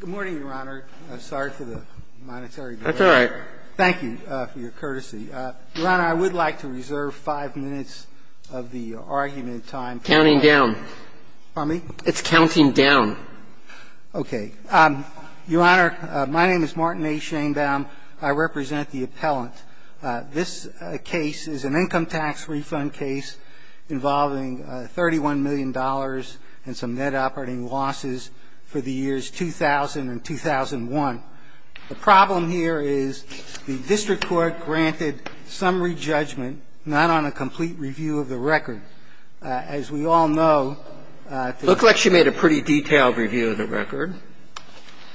Good morning, Your Honor. Sorry for the monetary delay. That's all right. Thank you for your courtesy. Your Honor, I would like to reserve five minutes of the argument time. Counting down. Pardon me? It's counting down. Okay. Your Honor, my name is Martin A. Shainbaum. I represent the appellant. This case is an income tax refund case involving $31 million and some net operating losses for the years 2000 and 2001. The problem here is the district court granted summary judgment not on a complete review of the record. As we all know. Looks like she made a pretty detailed review of the record.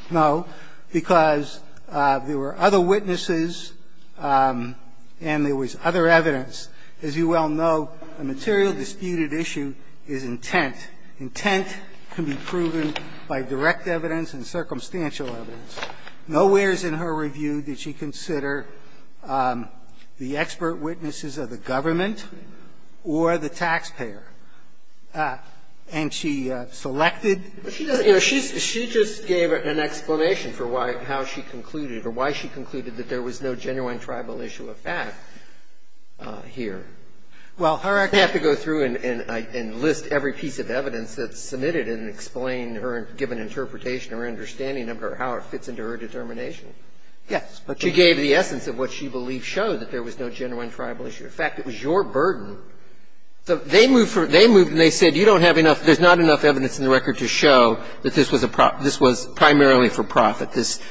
No. Because there were other witnesses and there was other evidence. As you well know, a material disputed issue is intent. Intent can be proven by direct evidence and circumstantial evidence. Nowhere is in her review did she consider the expert witnesses of the government or the taxpayer. And she selected? She just gave an explanation for why or how she concluded or why she concluded that there was no genuine tribal issue of fact here. Well, Her Excellency. You don't have to go through and list every piece of evidence that's submitted and explain her given interpretation or understanding of how it fits into her determination. Yes. She gave the essence of what she believed showed that there was no genuine tribal issue I'm not going to go through and list every piece of evidence that she gave. There was no genuine tribal issue of fact. It was your burden. They moved and they said you don't have enough or there's not enough evidence in the record to show that this was primarily for profit, this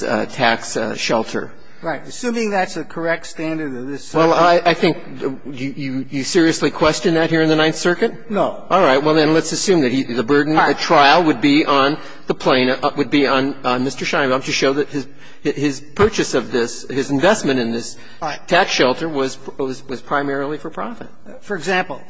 tax shelter. Right. Assuming that's the correct standard of this subject. Well, I think you seriously question that here in the Ninth Circuit? No. All right. Well, then let's assume that the burden of the trial would be on the plaintiff would be on Mr. Scheinbaum to show that his purchase of this, his investment in this tax shelter was primarily for profit. For example,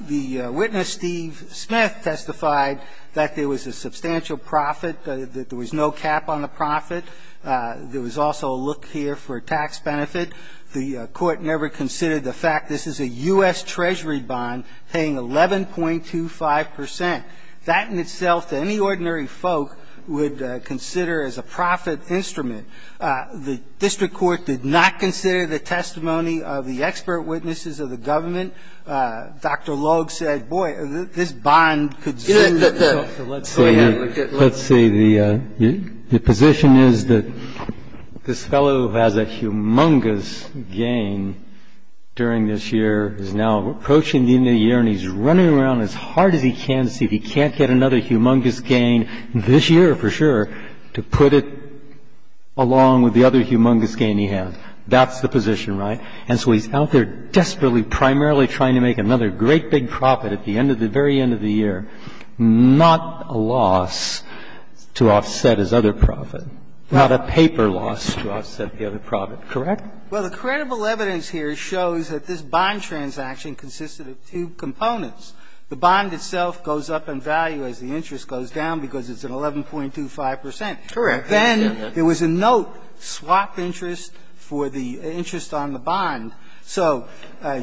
the witness, Steve Smith, testified that there was a substantial profit, that there was no cap on the profit. There was also a look here for tax benefit. The Court never considered the fact this is a U.S. Treasury bond paying 11.25 percent. That in itself to any ordinary folk would consider as a profit instrument. The district court did not consider the testimony of the expert witnesses of the government. Dr. Logue said, boy, this bond could sue. So let's see. Let's see. The position is that this fellow who has a humongous gain during this year is now approaching the end of the year and he's running around as hard as he can to see if he can't get another humongous gain this year for sure to put it along with the other humongous gain he has. That's the position, right? And so he's out there desperately, primarily trying to make another great big profit at the end of the very end of the year, not a loss to offset his other profit, not a paper loss to offset the other profit, correct? Well, the credible evidence here shows that this bond transaction consisted of two components. The bond itself goes up in value as the interest goes down because it's at 11.25 percent. Correct. Then there was a note, swap interest for the interest on the bond. So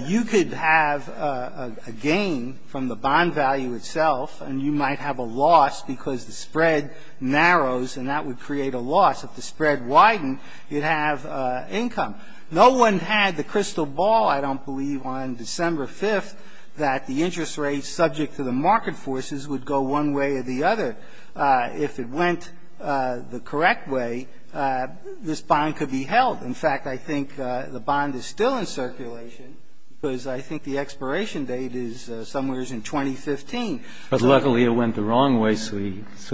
you could have a gain from the bond value itself and you might have a loss because the spread narrows and that would create a loss. If the spread widened, you'd have income. No one had the crystal ball, I don't believe, on December 5th that the interest rate subject to the market forces would go one way or the other if it went the crystal ball, correct, way, this bond could be held. In fact, I think the bond is still in circulation because I think the expiration date is somewhere in 2015. But luckily it went the wrong way, so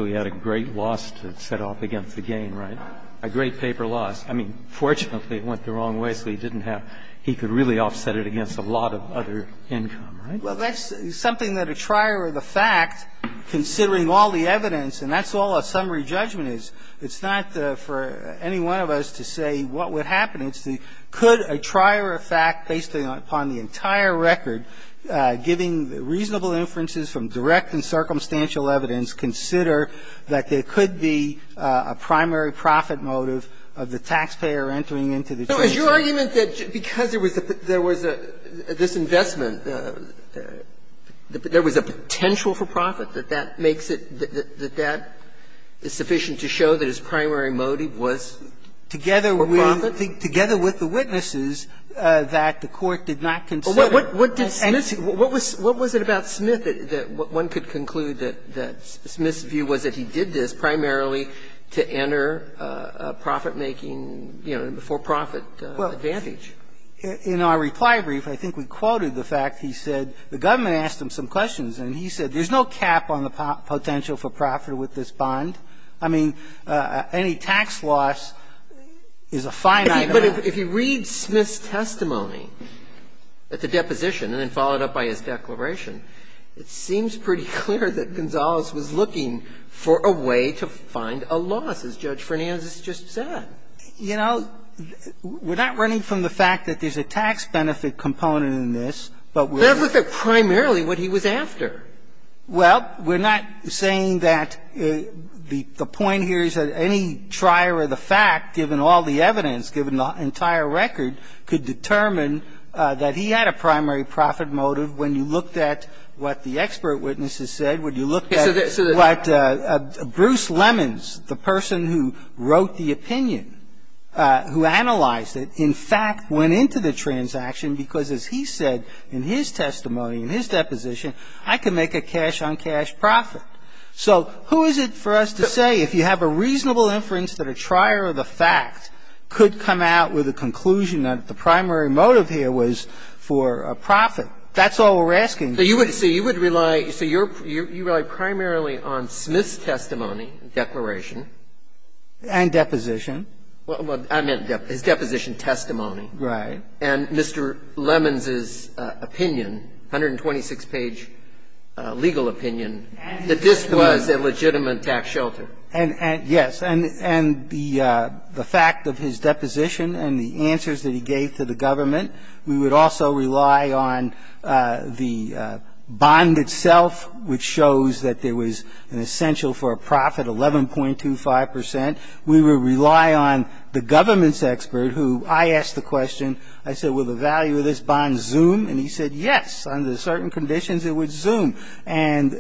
he had a great loss to set off against the gain, right? A great paper loss. I mean, fortunately it went the wrong way, so he didn't have to really offset it against a lot of other income, right? Well, that's something that a trier of the fact, considering all the evidence, and that's all a summary judgment is. It's not for any one of us to say what would happen. It's the could a trier of fact, based upon the entire record, giving reasonable inferences from direct and circumstantial evidence, consider that there could be a primary profit motive of the taxpayer entering into the trade deal? So is your argument that because there was a this investment, there was a potential for profit, that that makes it, that that is sufficient to show that his primary motive was for profit? Together with the witnesses that the Court did not consider. What did Smith, what was it about Smith that one could conclude that Smith's view was that he did this primarily to enter a profit-making, you know, a for-profit advantage? In our reply brief, I think we quoted the fact he said the government asked him some There's no cap on the potential for profit with this bond. I mean, any tax loss is a finite amount. But if you read Smith's testimony at the deposition, and then followed up by his declaration, it seems pretty clear that Gonzales was looking for a way to find a loss, as Judge Fernandez has just said. You know, we're not running from the fact that there's a tax benefit component Well, we're not saying that the point here is that any trier of the fact, given all the evidence, given the entire record, could determine that he had a primary profit motive. When you looked at what the expert witnesses said, when you looked at what Bruce Lemons, the person who wrote the opinion, who analyzed it, in fact went into the So who is it for us to say, if you have a reasonable inference that a trier of the fact could come out with a conclusion that the primary motive here was for a profit? That's all we're asking. So you would rely primarily on Smith's testimony, declaration. And deposition. I meant his deposition testimony. Right. And Mr. Lemons's opinion, 126-page legal opinion, that this was a legitimate tax shelter. And yes. And the fact of his deposition and the answers that he gave to the government, we would also rely on the bond itself, which shows that there was an essential for a profit, 11.25 percent. We would rely on the government's expert, who I asked the question, I said, will the value of this bond zoom? And he said, yes, under certain conditions it would zoom. And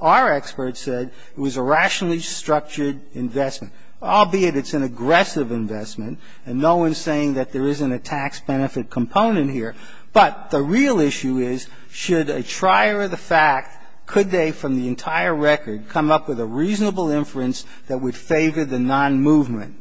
our expert said it was a rationally structured investment, albeit it's an aggressive investment, and no one's saying that there isn't a tax benefit component here. But the real issue is, should a trier of the fact, could they, from the entire record, come up with a reasonable inference that would favor the non-movement?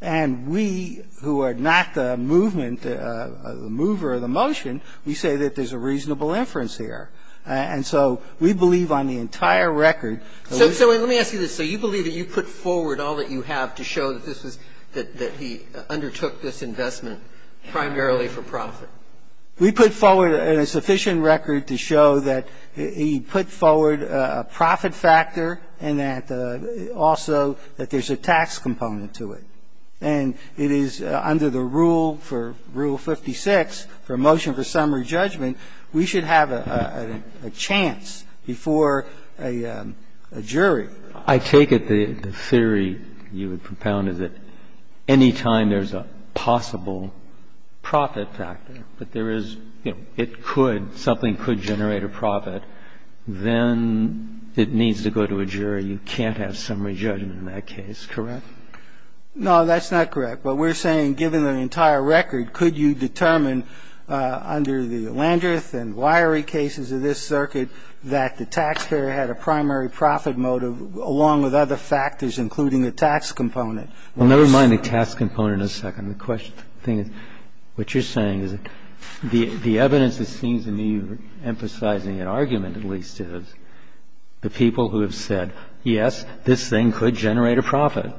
And we, who are not the movement, the mover of the motion, we say that there's a reasonable inference here. And so we believe on the entire record that we should be able to do that. So let me ask you this. So you believe that you put forward all that you have to show that this was the one that he undertook this investment primarily for profit? We put forward a sufficient record to show that he put forward a profit factor and that also that there's a tax component to it. And it is under the rule for Rule 56, for a motion for summary judgment, we should have a chance before a jury. I take it the theory you would propound is that any time there's a possible profit factor, but there is, you know, it could, something could generate a profit, then it needs to go to a jury. You can't have summary judgment in that case, correct? No, that's not correct. But we're saying, given the entire record, could you determine under the Landreth and Wyery cases of this circuit that the taxpayer had a primary profit motive along with other factors, including a tax component? Well, never mind the tax component in a second. The question, the thing is, what you're saying is the evidence that seems to me you're emphasizing an argument at least is the people who have said, yes, this thing could generate a profit.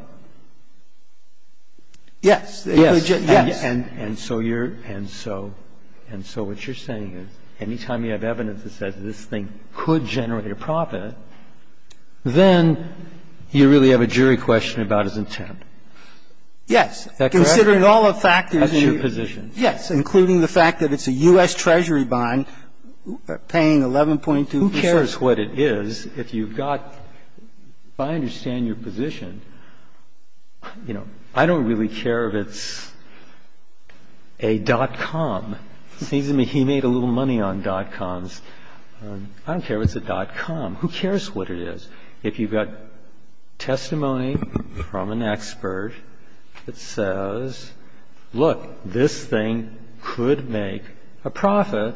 Yes. Yes. And so you're, and so, and so what you're saying is, any time you have evidence that says this thing could generate a profit, then you really have a jury question about his intent. Yes. That's correct. Considering all the factors. That's your position. Yes, including the fact that it's a U.S. Treasury bond paying 11.2 percent. Who cares what it is if you've got, if I understand your position, you know, I don't really care if it's a dot-com. It seems to me he made a little money on dot-coms. I don't care if it's a dot-com. Who cares what it is? If you've got testimony from an expert that says, look, this thing could make a profit,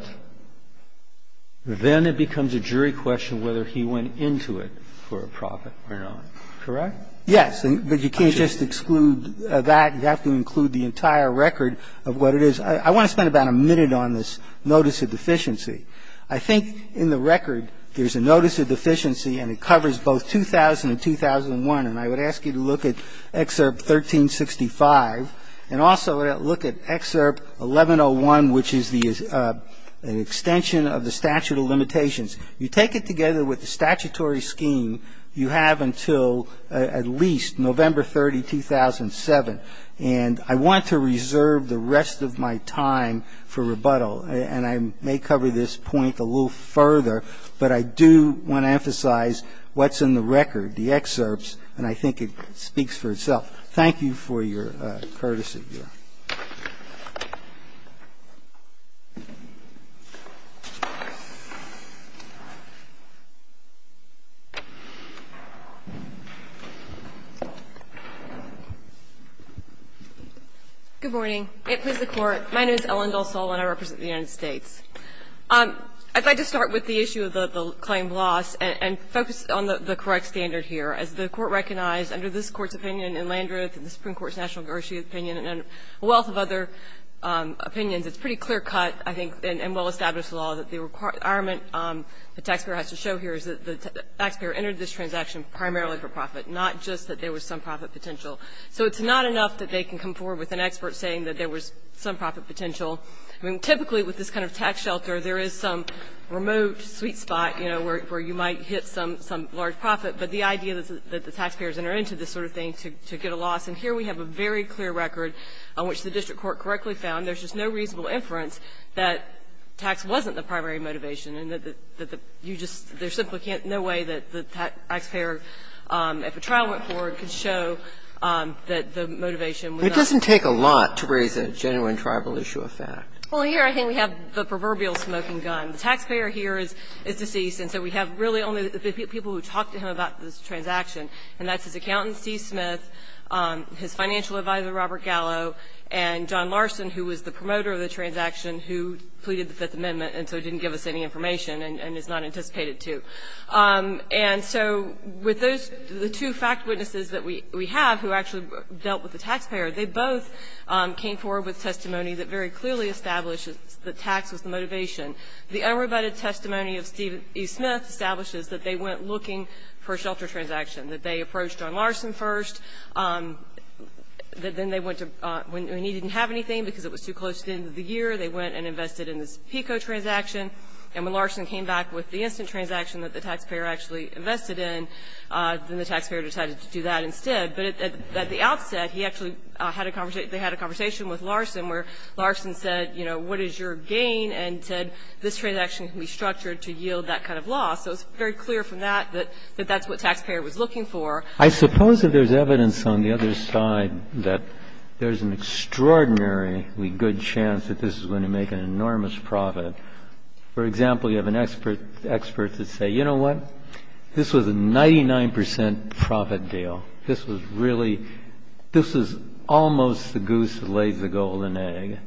then it becomes a jury question whether he went into it for a profit or not. Correct? Yes. But you can't just exclude that. You have to include the entire record of what it is. I want to spend about a minute on this notice of deficiency. I think in the record there's a notice of deficiency, and it covers both 2000 and 2001. And I would ask you to look at Excerpt 1365 and also look at Excerpt 1101, which is the extension of the statute of limitations. You take it together with the statutory scheme you have until at least November 30, 2007. And I want to reserve the rest of my time for rebuttal. And I may cover this point a little further, but I do want to emphasize what's in the record, the excerpts, and I think it speaks for itself. Thank you for your courtesy. Good morning. May it please the Court. My name is Ellen Dalsal, and I represent the United States. I'd like to start with the issue of the claim loss and focus on the correct standard here. As the Court recognized under this Court's opinion in Landreth and the Supreme Court's National Garcia opinion and a wealth of other opinions, it's pretty clear cut, I think, and well-established law that the requirement the taxpayer has to show here is that the taxpayer entered this transaction primarily for profit, not just that there was some profit potential. So it's not enough that they can come forward with an expert saying that there was some profit potential. I mean, typically with this kind of tax shelter, there is some remote sweet spot, you know, where you might hit some large profit. But the idea that the taxpayers entered into this sort of thing to get a loss, and here we have a very clear record on which the district court correctly found. There's just no reasonable inference that tax wasn't the primary motivation and that you just — there simply can't — no way that the taxpayer, if a trial went forward, could show that the motivation was not. And it doesn't take a lot to raise a genuine tribal issue of fact. Well, here I think we have the proverbial smoking gun. The taxpayer here is deceased, and so we have really only the people who talk to him about this transaction, and that's his accountant, Steve Smith, his financial advisor, Robert Gallo, and John Larson, who was the promoter of the transaction, who pleaded the Fifth Amendment and so didn't give us any information and is not anticipated to. And so with those — the two fact witnesses that we have who actually dealt with the taxpayer, they both came forward with testimony that very clearly established that tax was the motivation. The unrebutted testimony of Steve Smith establishes that they went looking for a shelter transaction, that they approached John Larson first, that then they went to — when he didn't have anything because it was too close to the end of the year, they went and invested in this PICO transaction. And when Larson came back with the instant transaction that the taxpayer actually invested in, then the taxpayer decided to do that instead. But at the outset, he actually had a conversation — they had a conversation with Larson where Larson said, you know, what is your gain, and said this transaction can be structured to yield that kind of loss. So it's very clear from that that that's what taxpayer was looking for. I suppose that there's evidence on the other side that there's an extraordinarily good chance that this is going to make an enormous profit. For example, you have an expert that says, you know what, this was a 99 percent profit deal. This was really — this was almost the goose that laid the golden egg.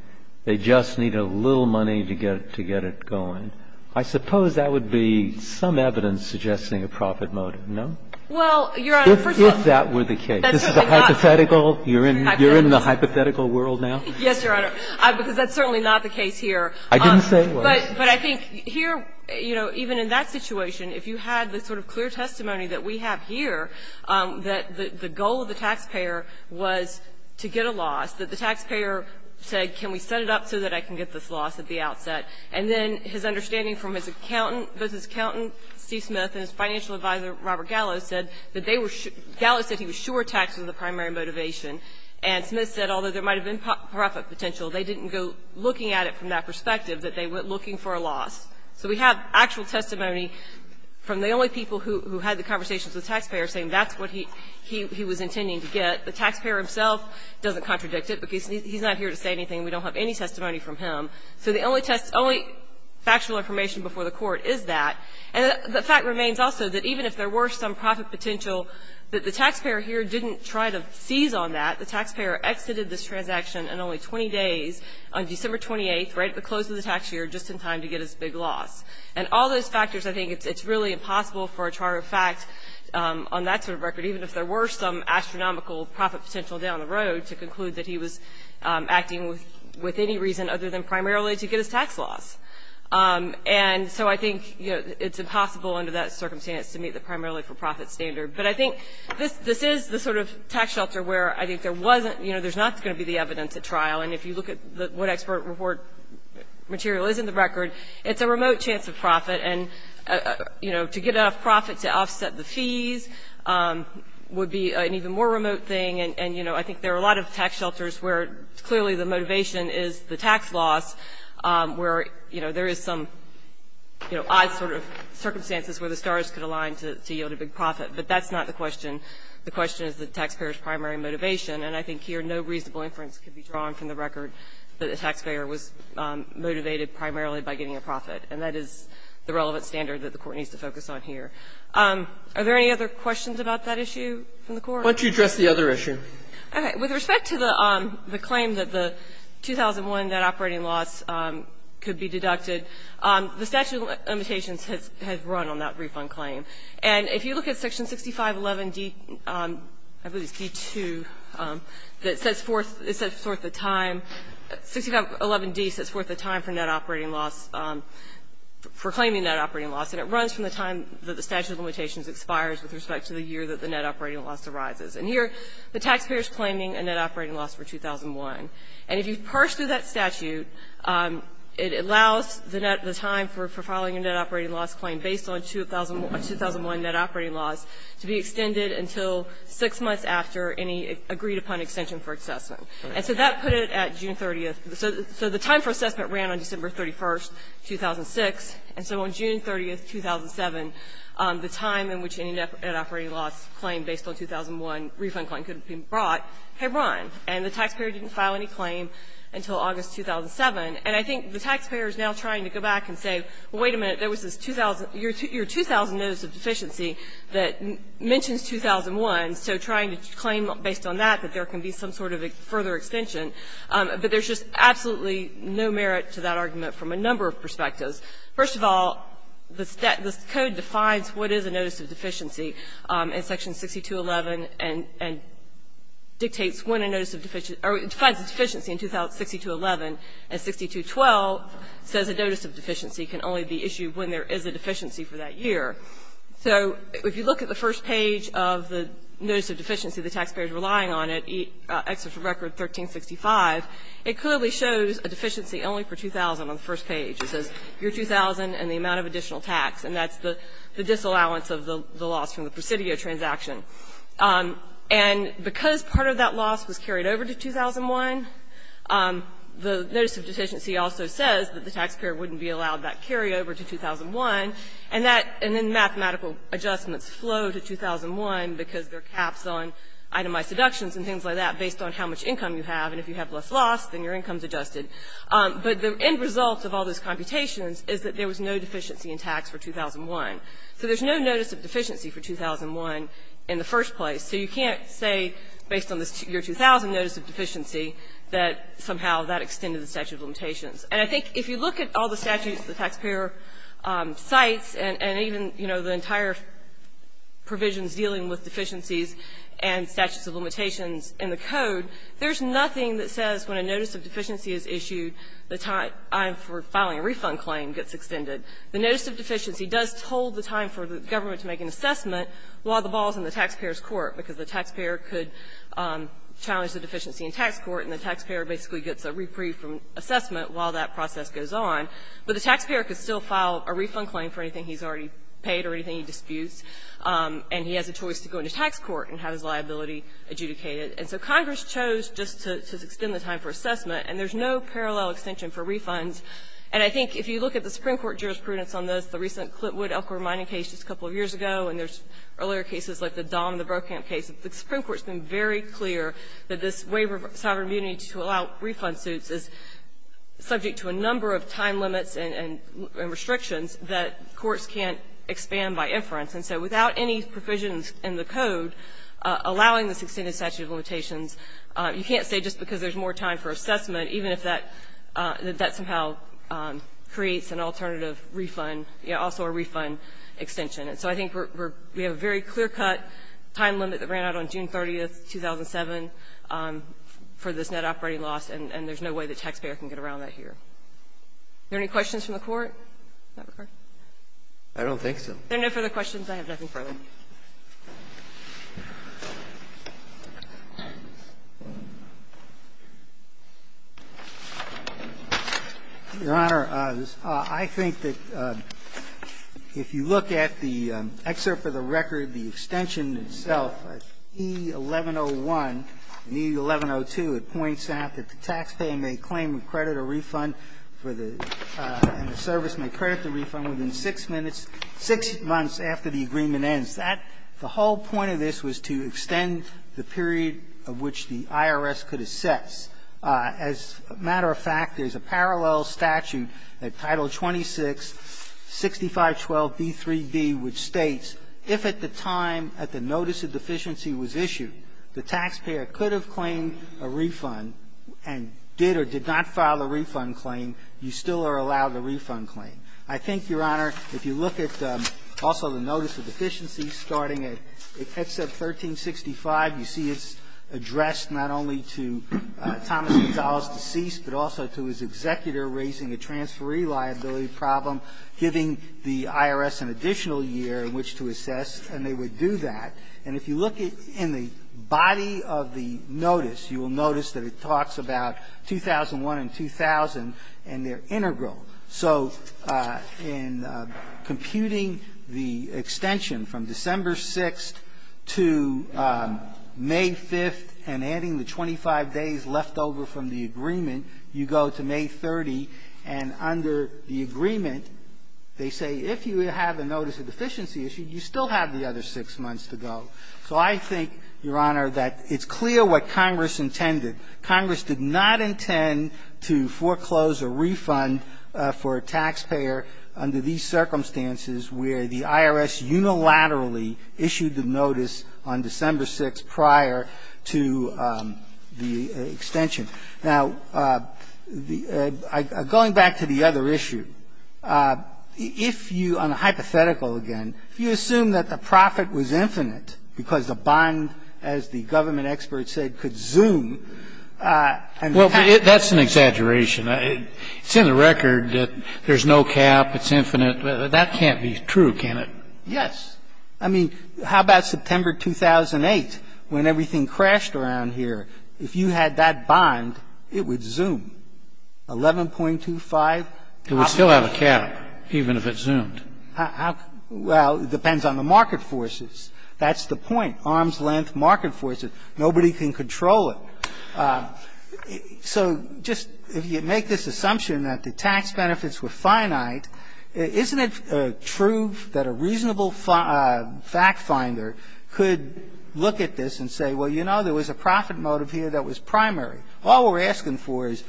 They just needed a little money to get it going. I suppose that would be some evidence suggesting a profit motive, no? If that were the case. This is a hypothetical. You're in the hypothetical world now? Yes, Your Honor, because that's certainly not the case here. I didn't say it was. But I think here, you know, even in that situation, if you had the sort of clear testimony that we have here, that the goal of the taxpayer was to get a loss, that the taxpayer said, can we set it up so that I can get this loss at the outset, and then his understanding from his accountant, business accountant, Steve Smith, and his financial advisor, Robert Gallo, said that they were — Gallo said he was sure tax was the primary motivation, and Smith said, although there might have been profit potential, they didn't go looking at it from that perspective, that they went looking for a loss. So we have actual testimony from the only people who had the conversations with the taxpayer saying that's what he was intending to get. The taxpayer himself doesn't contradict it, because he's not here to say anything. We don't have any testimony from him. So the only factual information before the Court is that. The taxpayer here didn't try to seize on that. The taxpayer exited this transaction in only 20 days on December 28th, right at the close of the tax year, just in time to get his big loss. And all those factors, I think it's really impossible for a charter of fact on that sort of record, even if there were some astronomical profit potential down the road to conclude that he was acting with any reason other than primarily to get his tax loss. And so I think, you know, it's impossible under that circumstance to meet the primarily-for-profit standard. But I think this is the sort of tax shelter where I think there wasn't, you know, there's not going to be the evidence at trial. And if you look at what expert report material is in the record, it's a remote chance of profit. And, you know, to get enough profit to offset the fees would be an even more remote thing. And, you know, I think there are a lot of tax shelters where clearly the motivation is the tax loss, where, you know, there is some, you know, odd sort of circumstances where the stars could align to yield a big profit. But that's not the question. The question is the taxpayer's primary motivation. And I think here no reasonable inference can be drawn from the record that the taxpayer was motivated primarily by getting a profit. And that is the relevant standard that the Court needs to focus on here. Are there any other questions about that issue from the Court? Roberts. What do you address the other issue? With respect to the claim that the 2001 net operating loss could be deducted, the statute of limitations has run on that refund claim. And if you look at section 6511D, I believe it's D2, that sets forth the time, 6511D sets forth the time for net operating loss, for claiming net operating loss. And it runs from the time that the statute of limitations expires with respect to the year that the net operating loss arises. And here the taxpayer is claiming a net operating loss for 2001. And if you've parsed through that statute, it allows the time for filing a net operating loss claim based on 2001 net operating loss to be extended until 6 months after any agreed-upon extension for assessment. And so that put it at June 30th. So the time for assessment ran on December 31st, 2006. And so on June 30th, 2007, the time in which any net operating loss claim based on 2001 refund claim could have been brought had run. And the taxpayer didn't file any claim until August 2007. And I think the taxpayer is now trying to go back and say, well, wait a minute, there was this 2000 year 2000 notice of deficiency that mentions 2001. So trying to claim based on that that there can be some sort of a further extension. But there's just absolutely no merit to that argument from a number of perspectives. First of all, the code defines what is a notice of deficiency in section 6211 and dictates when a notice of deficiency or defines a deficiency in 6211. And 6212 says a notice of deficiency can only be issued when there is a deficiency for that year. So if you look at the first page of the notice of deficiency, the taxpayer is relying on it, Exit for Record 1365, it clearly shows a deficiency only for 2000 on the first page. It says year 2000 and the amount of additional tax. And that's the disallowance of the loss from the Presidio transaction. And because part of that loss was carried over to 2001, the notice of deficiency also says that the taxpayer wouldn't be allowed that carryover to 2001, and that the mathematical adjustments flow to 2001 because there are caps on itemized deductions and things like that based on how much income you have, and if you have less loss, then your income is adjusted. But the end result of all those computations is that there was no deficiency in tax for 2001. So there's no notice of deficiency for 2001 in the first place. So you can't say based on this year 2000 notice of deficiency that somehow that extended the statute of limitations. And I think if you look at all the statutes the taxpayer cites and even, you know, the entire provisions dealing with deficiencies and statutes of limitations in the Code, there's nothing that says when a notice of deficiency is issued, the time for filing a refund claim gets extended. The notice of deficiency does hold the time for the government to make an assessment while the ball is in the taxpayer's court, because the taxpayer could challenge the deficiency in tax court, and the taxpayer basically gets a reprieve from assessment while that process goes on. But the taxpayer could still file a refund claim for anything he's already paid or anything he disputes, and he has a choice to go into tax court and have his liability adjudicated. And so Congress chose just to extend the time for assessment, and there's no parallel extension for refunds. And I think if you look at the Supreme Court jurisprudence on this, the recent Clitwood-Elkhorn mining case just a couple of years ago, and there's earlier cases like the Don and the Brokamp case, the Supreme Court has been very clear that this waiver of sovereign immunity to allow refund suits is subject to a number of time limits and restrictions that courts can't expand by inference. And so without any provisions in the Code allowing this extended statute of limitations, you can't say just because there's more time for assessment, even if that somehow creates an alternative refund, you know, also a refund extension. And so I think we're we have a very clear-cut time limit that ran out on June 30th, 2007, for this net operating loss, and there's no way the taxpayer can get around that here. Are there any questions from the Court? Does that record? I don't think so. Are there no further questions? I have nothing further. Your Honor, I think that if you look at the excerpt for the record, the extension itself, E-1101 and E-1102, it points out that the taxpayer may claim credit or refund for the and the service may credit the refund within 6 minutes, 6 months after the refund. The whole point of this was to extend the period of which the IRS could assess. As a matter of fact, there's a parallel statute at Title 26, 6512b3d, which states if at the time at the notice of deficiency was issued, the taxpayer could have claimed a refund and did or did not file a refund claim, you still are allowed a refund claim. I think, Your Honor, if you look at also the notice of deficiency starting at excerpt 1365, you see it's addressed not only to Thomas Gonzalez, deceased, but also to his executor raising a transferee liability problem, giving the IRS an additional year in which to assess, and they would do that. And if you look in the body of the notice, you will notice that it talks about 2001 and 2000, and they're integral. So in computing the extension from December 6th to May 5th and adding the 25 days left over from the agreement, you go to May 30, and under the agreement, they say if you have a notice of deficiency issued, you still have the other 6 months to go. So I think, Your Honor, that it's clear what Congress intended. Congress did not intend to foreclose a refund for a taxpayer under these circumstances where the IRS unilaterally issued the notice on December 6th prior to the extension. Now, going back to the other issue, if you – on a hypothetical again, if you assume that the profit was infinite because the bond, as the government experts said, could zoom, and the cap – Well, that's an exaggeration. It's in the record that there's no cap, it's infinite. That can't be true, can it? Yes. I mean, how about September 2008 when everything crashed around here? If you had that bond, it would zoom. 11.25 – It would still have a cap, even if it zoomed. Well, it depends on the market forces. That's the point. Arms' length, market forces. Nobody can control it. So just if you make this assumption that the tax benefits were finite, isn't it true that a reasonable factfinder could look at this and say, well, you know, there was a profit motive here that was primary? All we're asking for is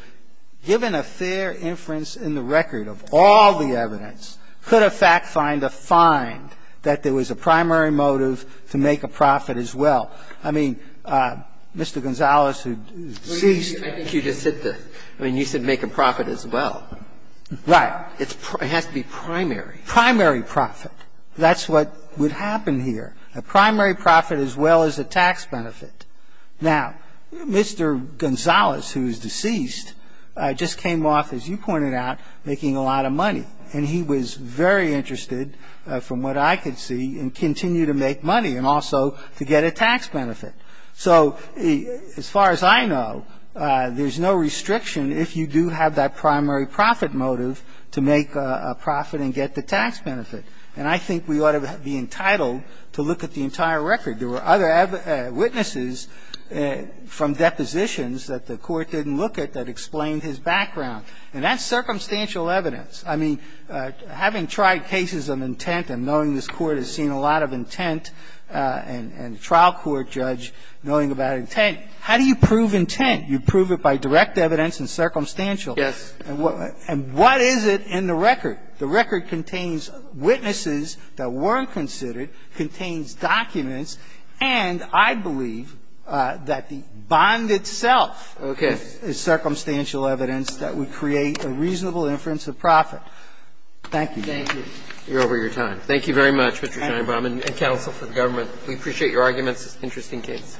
given a fair inference in the record of all the evidence, could a factfinder find that there was a primary motive to make a profit as well? I mean, Mr. Gonzalez, who is deceased – I think you just hit the – I mean, you said make a profit as well. Right. It has to be primary. Primary profit. That's what would happen here, a primary profit as well as a tax benefit. Now, Mr. Gonzalez, who is deceased, just came off, as you pointed out, making a lot of money, and he was very interested, from what I could see, in continuing to make money and also to get a tax benefit. So as far as I know, there's no restriction if you do have that primary profit motive to make a profit and get the tax benefit. And I think we ought to be entitled to look at the entire record. There were other witnesses from depositions that the Court didn't look at that explained his background. And that's circumstantial evidence. I mean, having tried cases of intent and knowing this Court has seen a lot of intent and a trial court judge knowing about intent, how do you prove intent? You prove it by direct evidence and circumstantial. Yes. And what is it in the record? The record contains witnesses that weren't considered, contains documents, And the Government is you have a falling back as you conduct a judicial impact to make a reasonable inference of profit. Thank you, Your Honor. Roberts, thank you. Thank you very much, Mr. Steinbaum, and counsel for the government. We appreciate your arguments. Interesting case.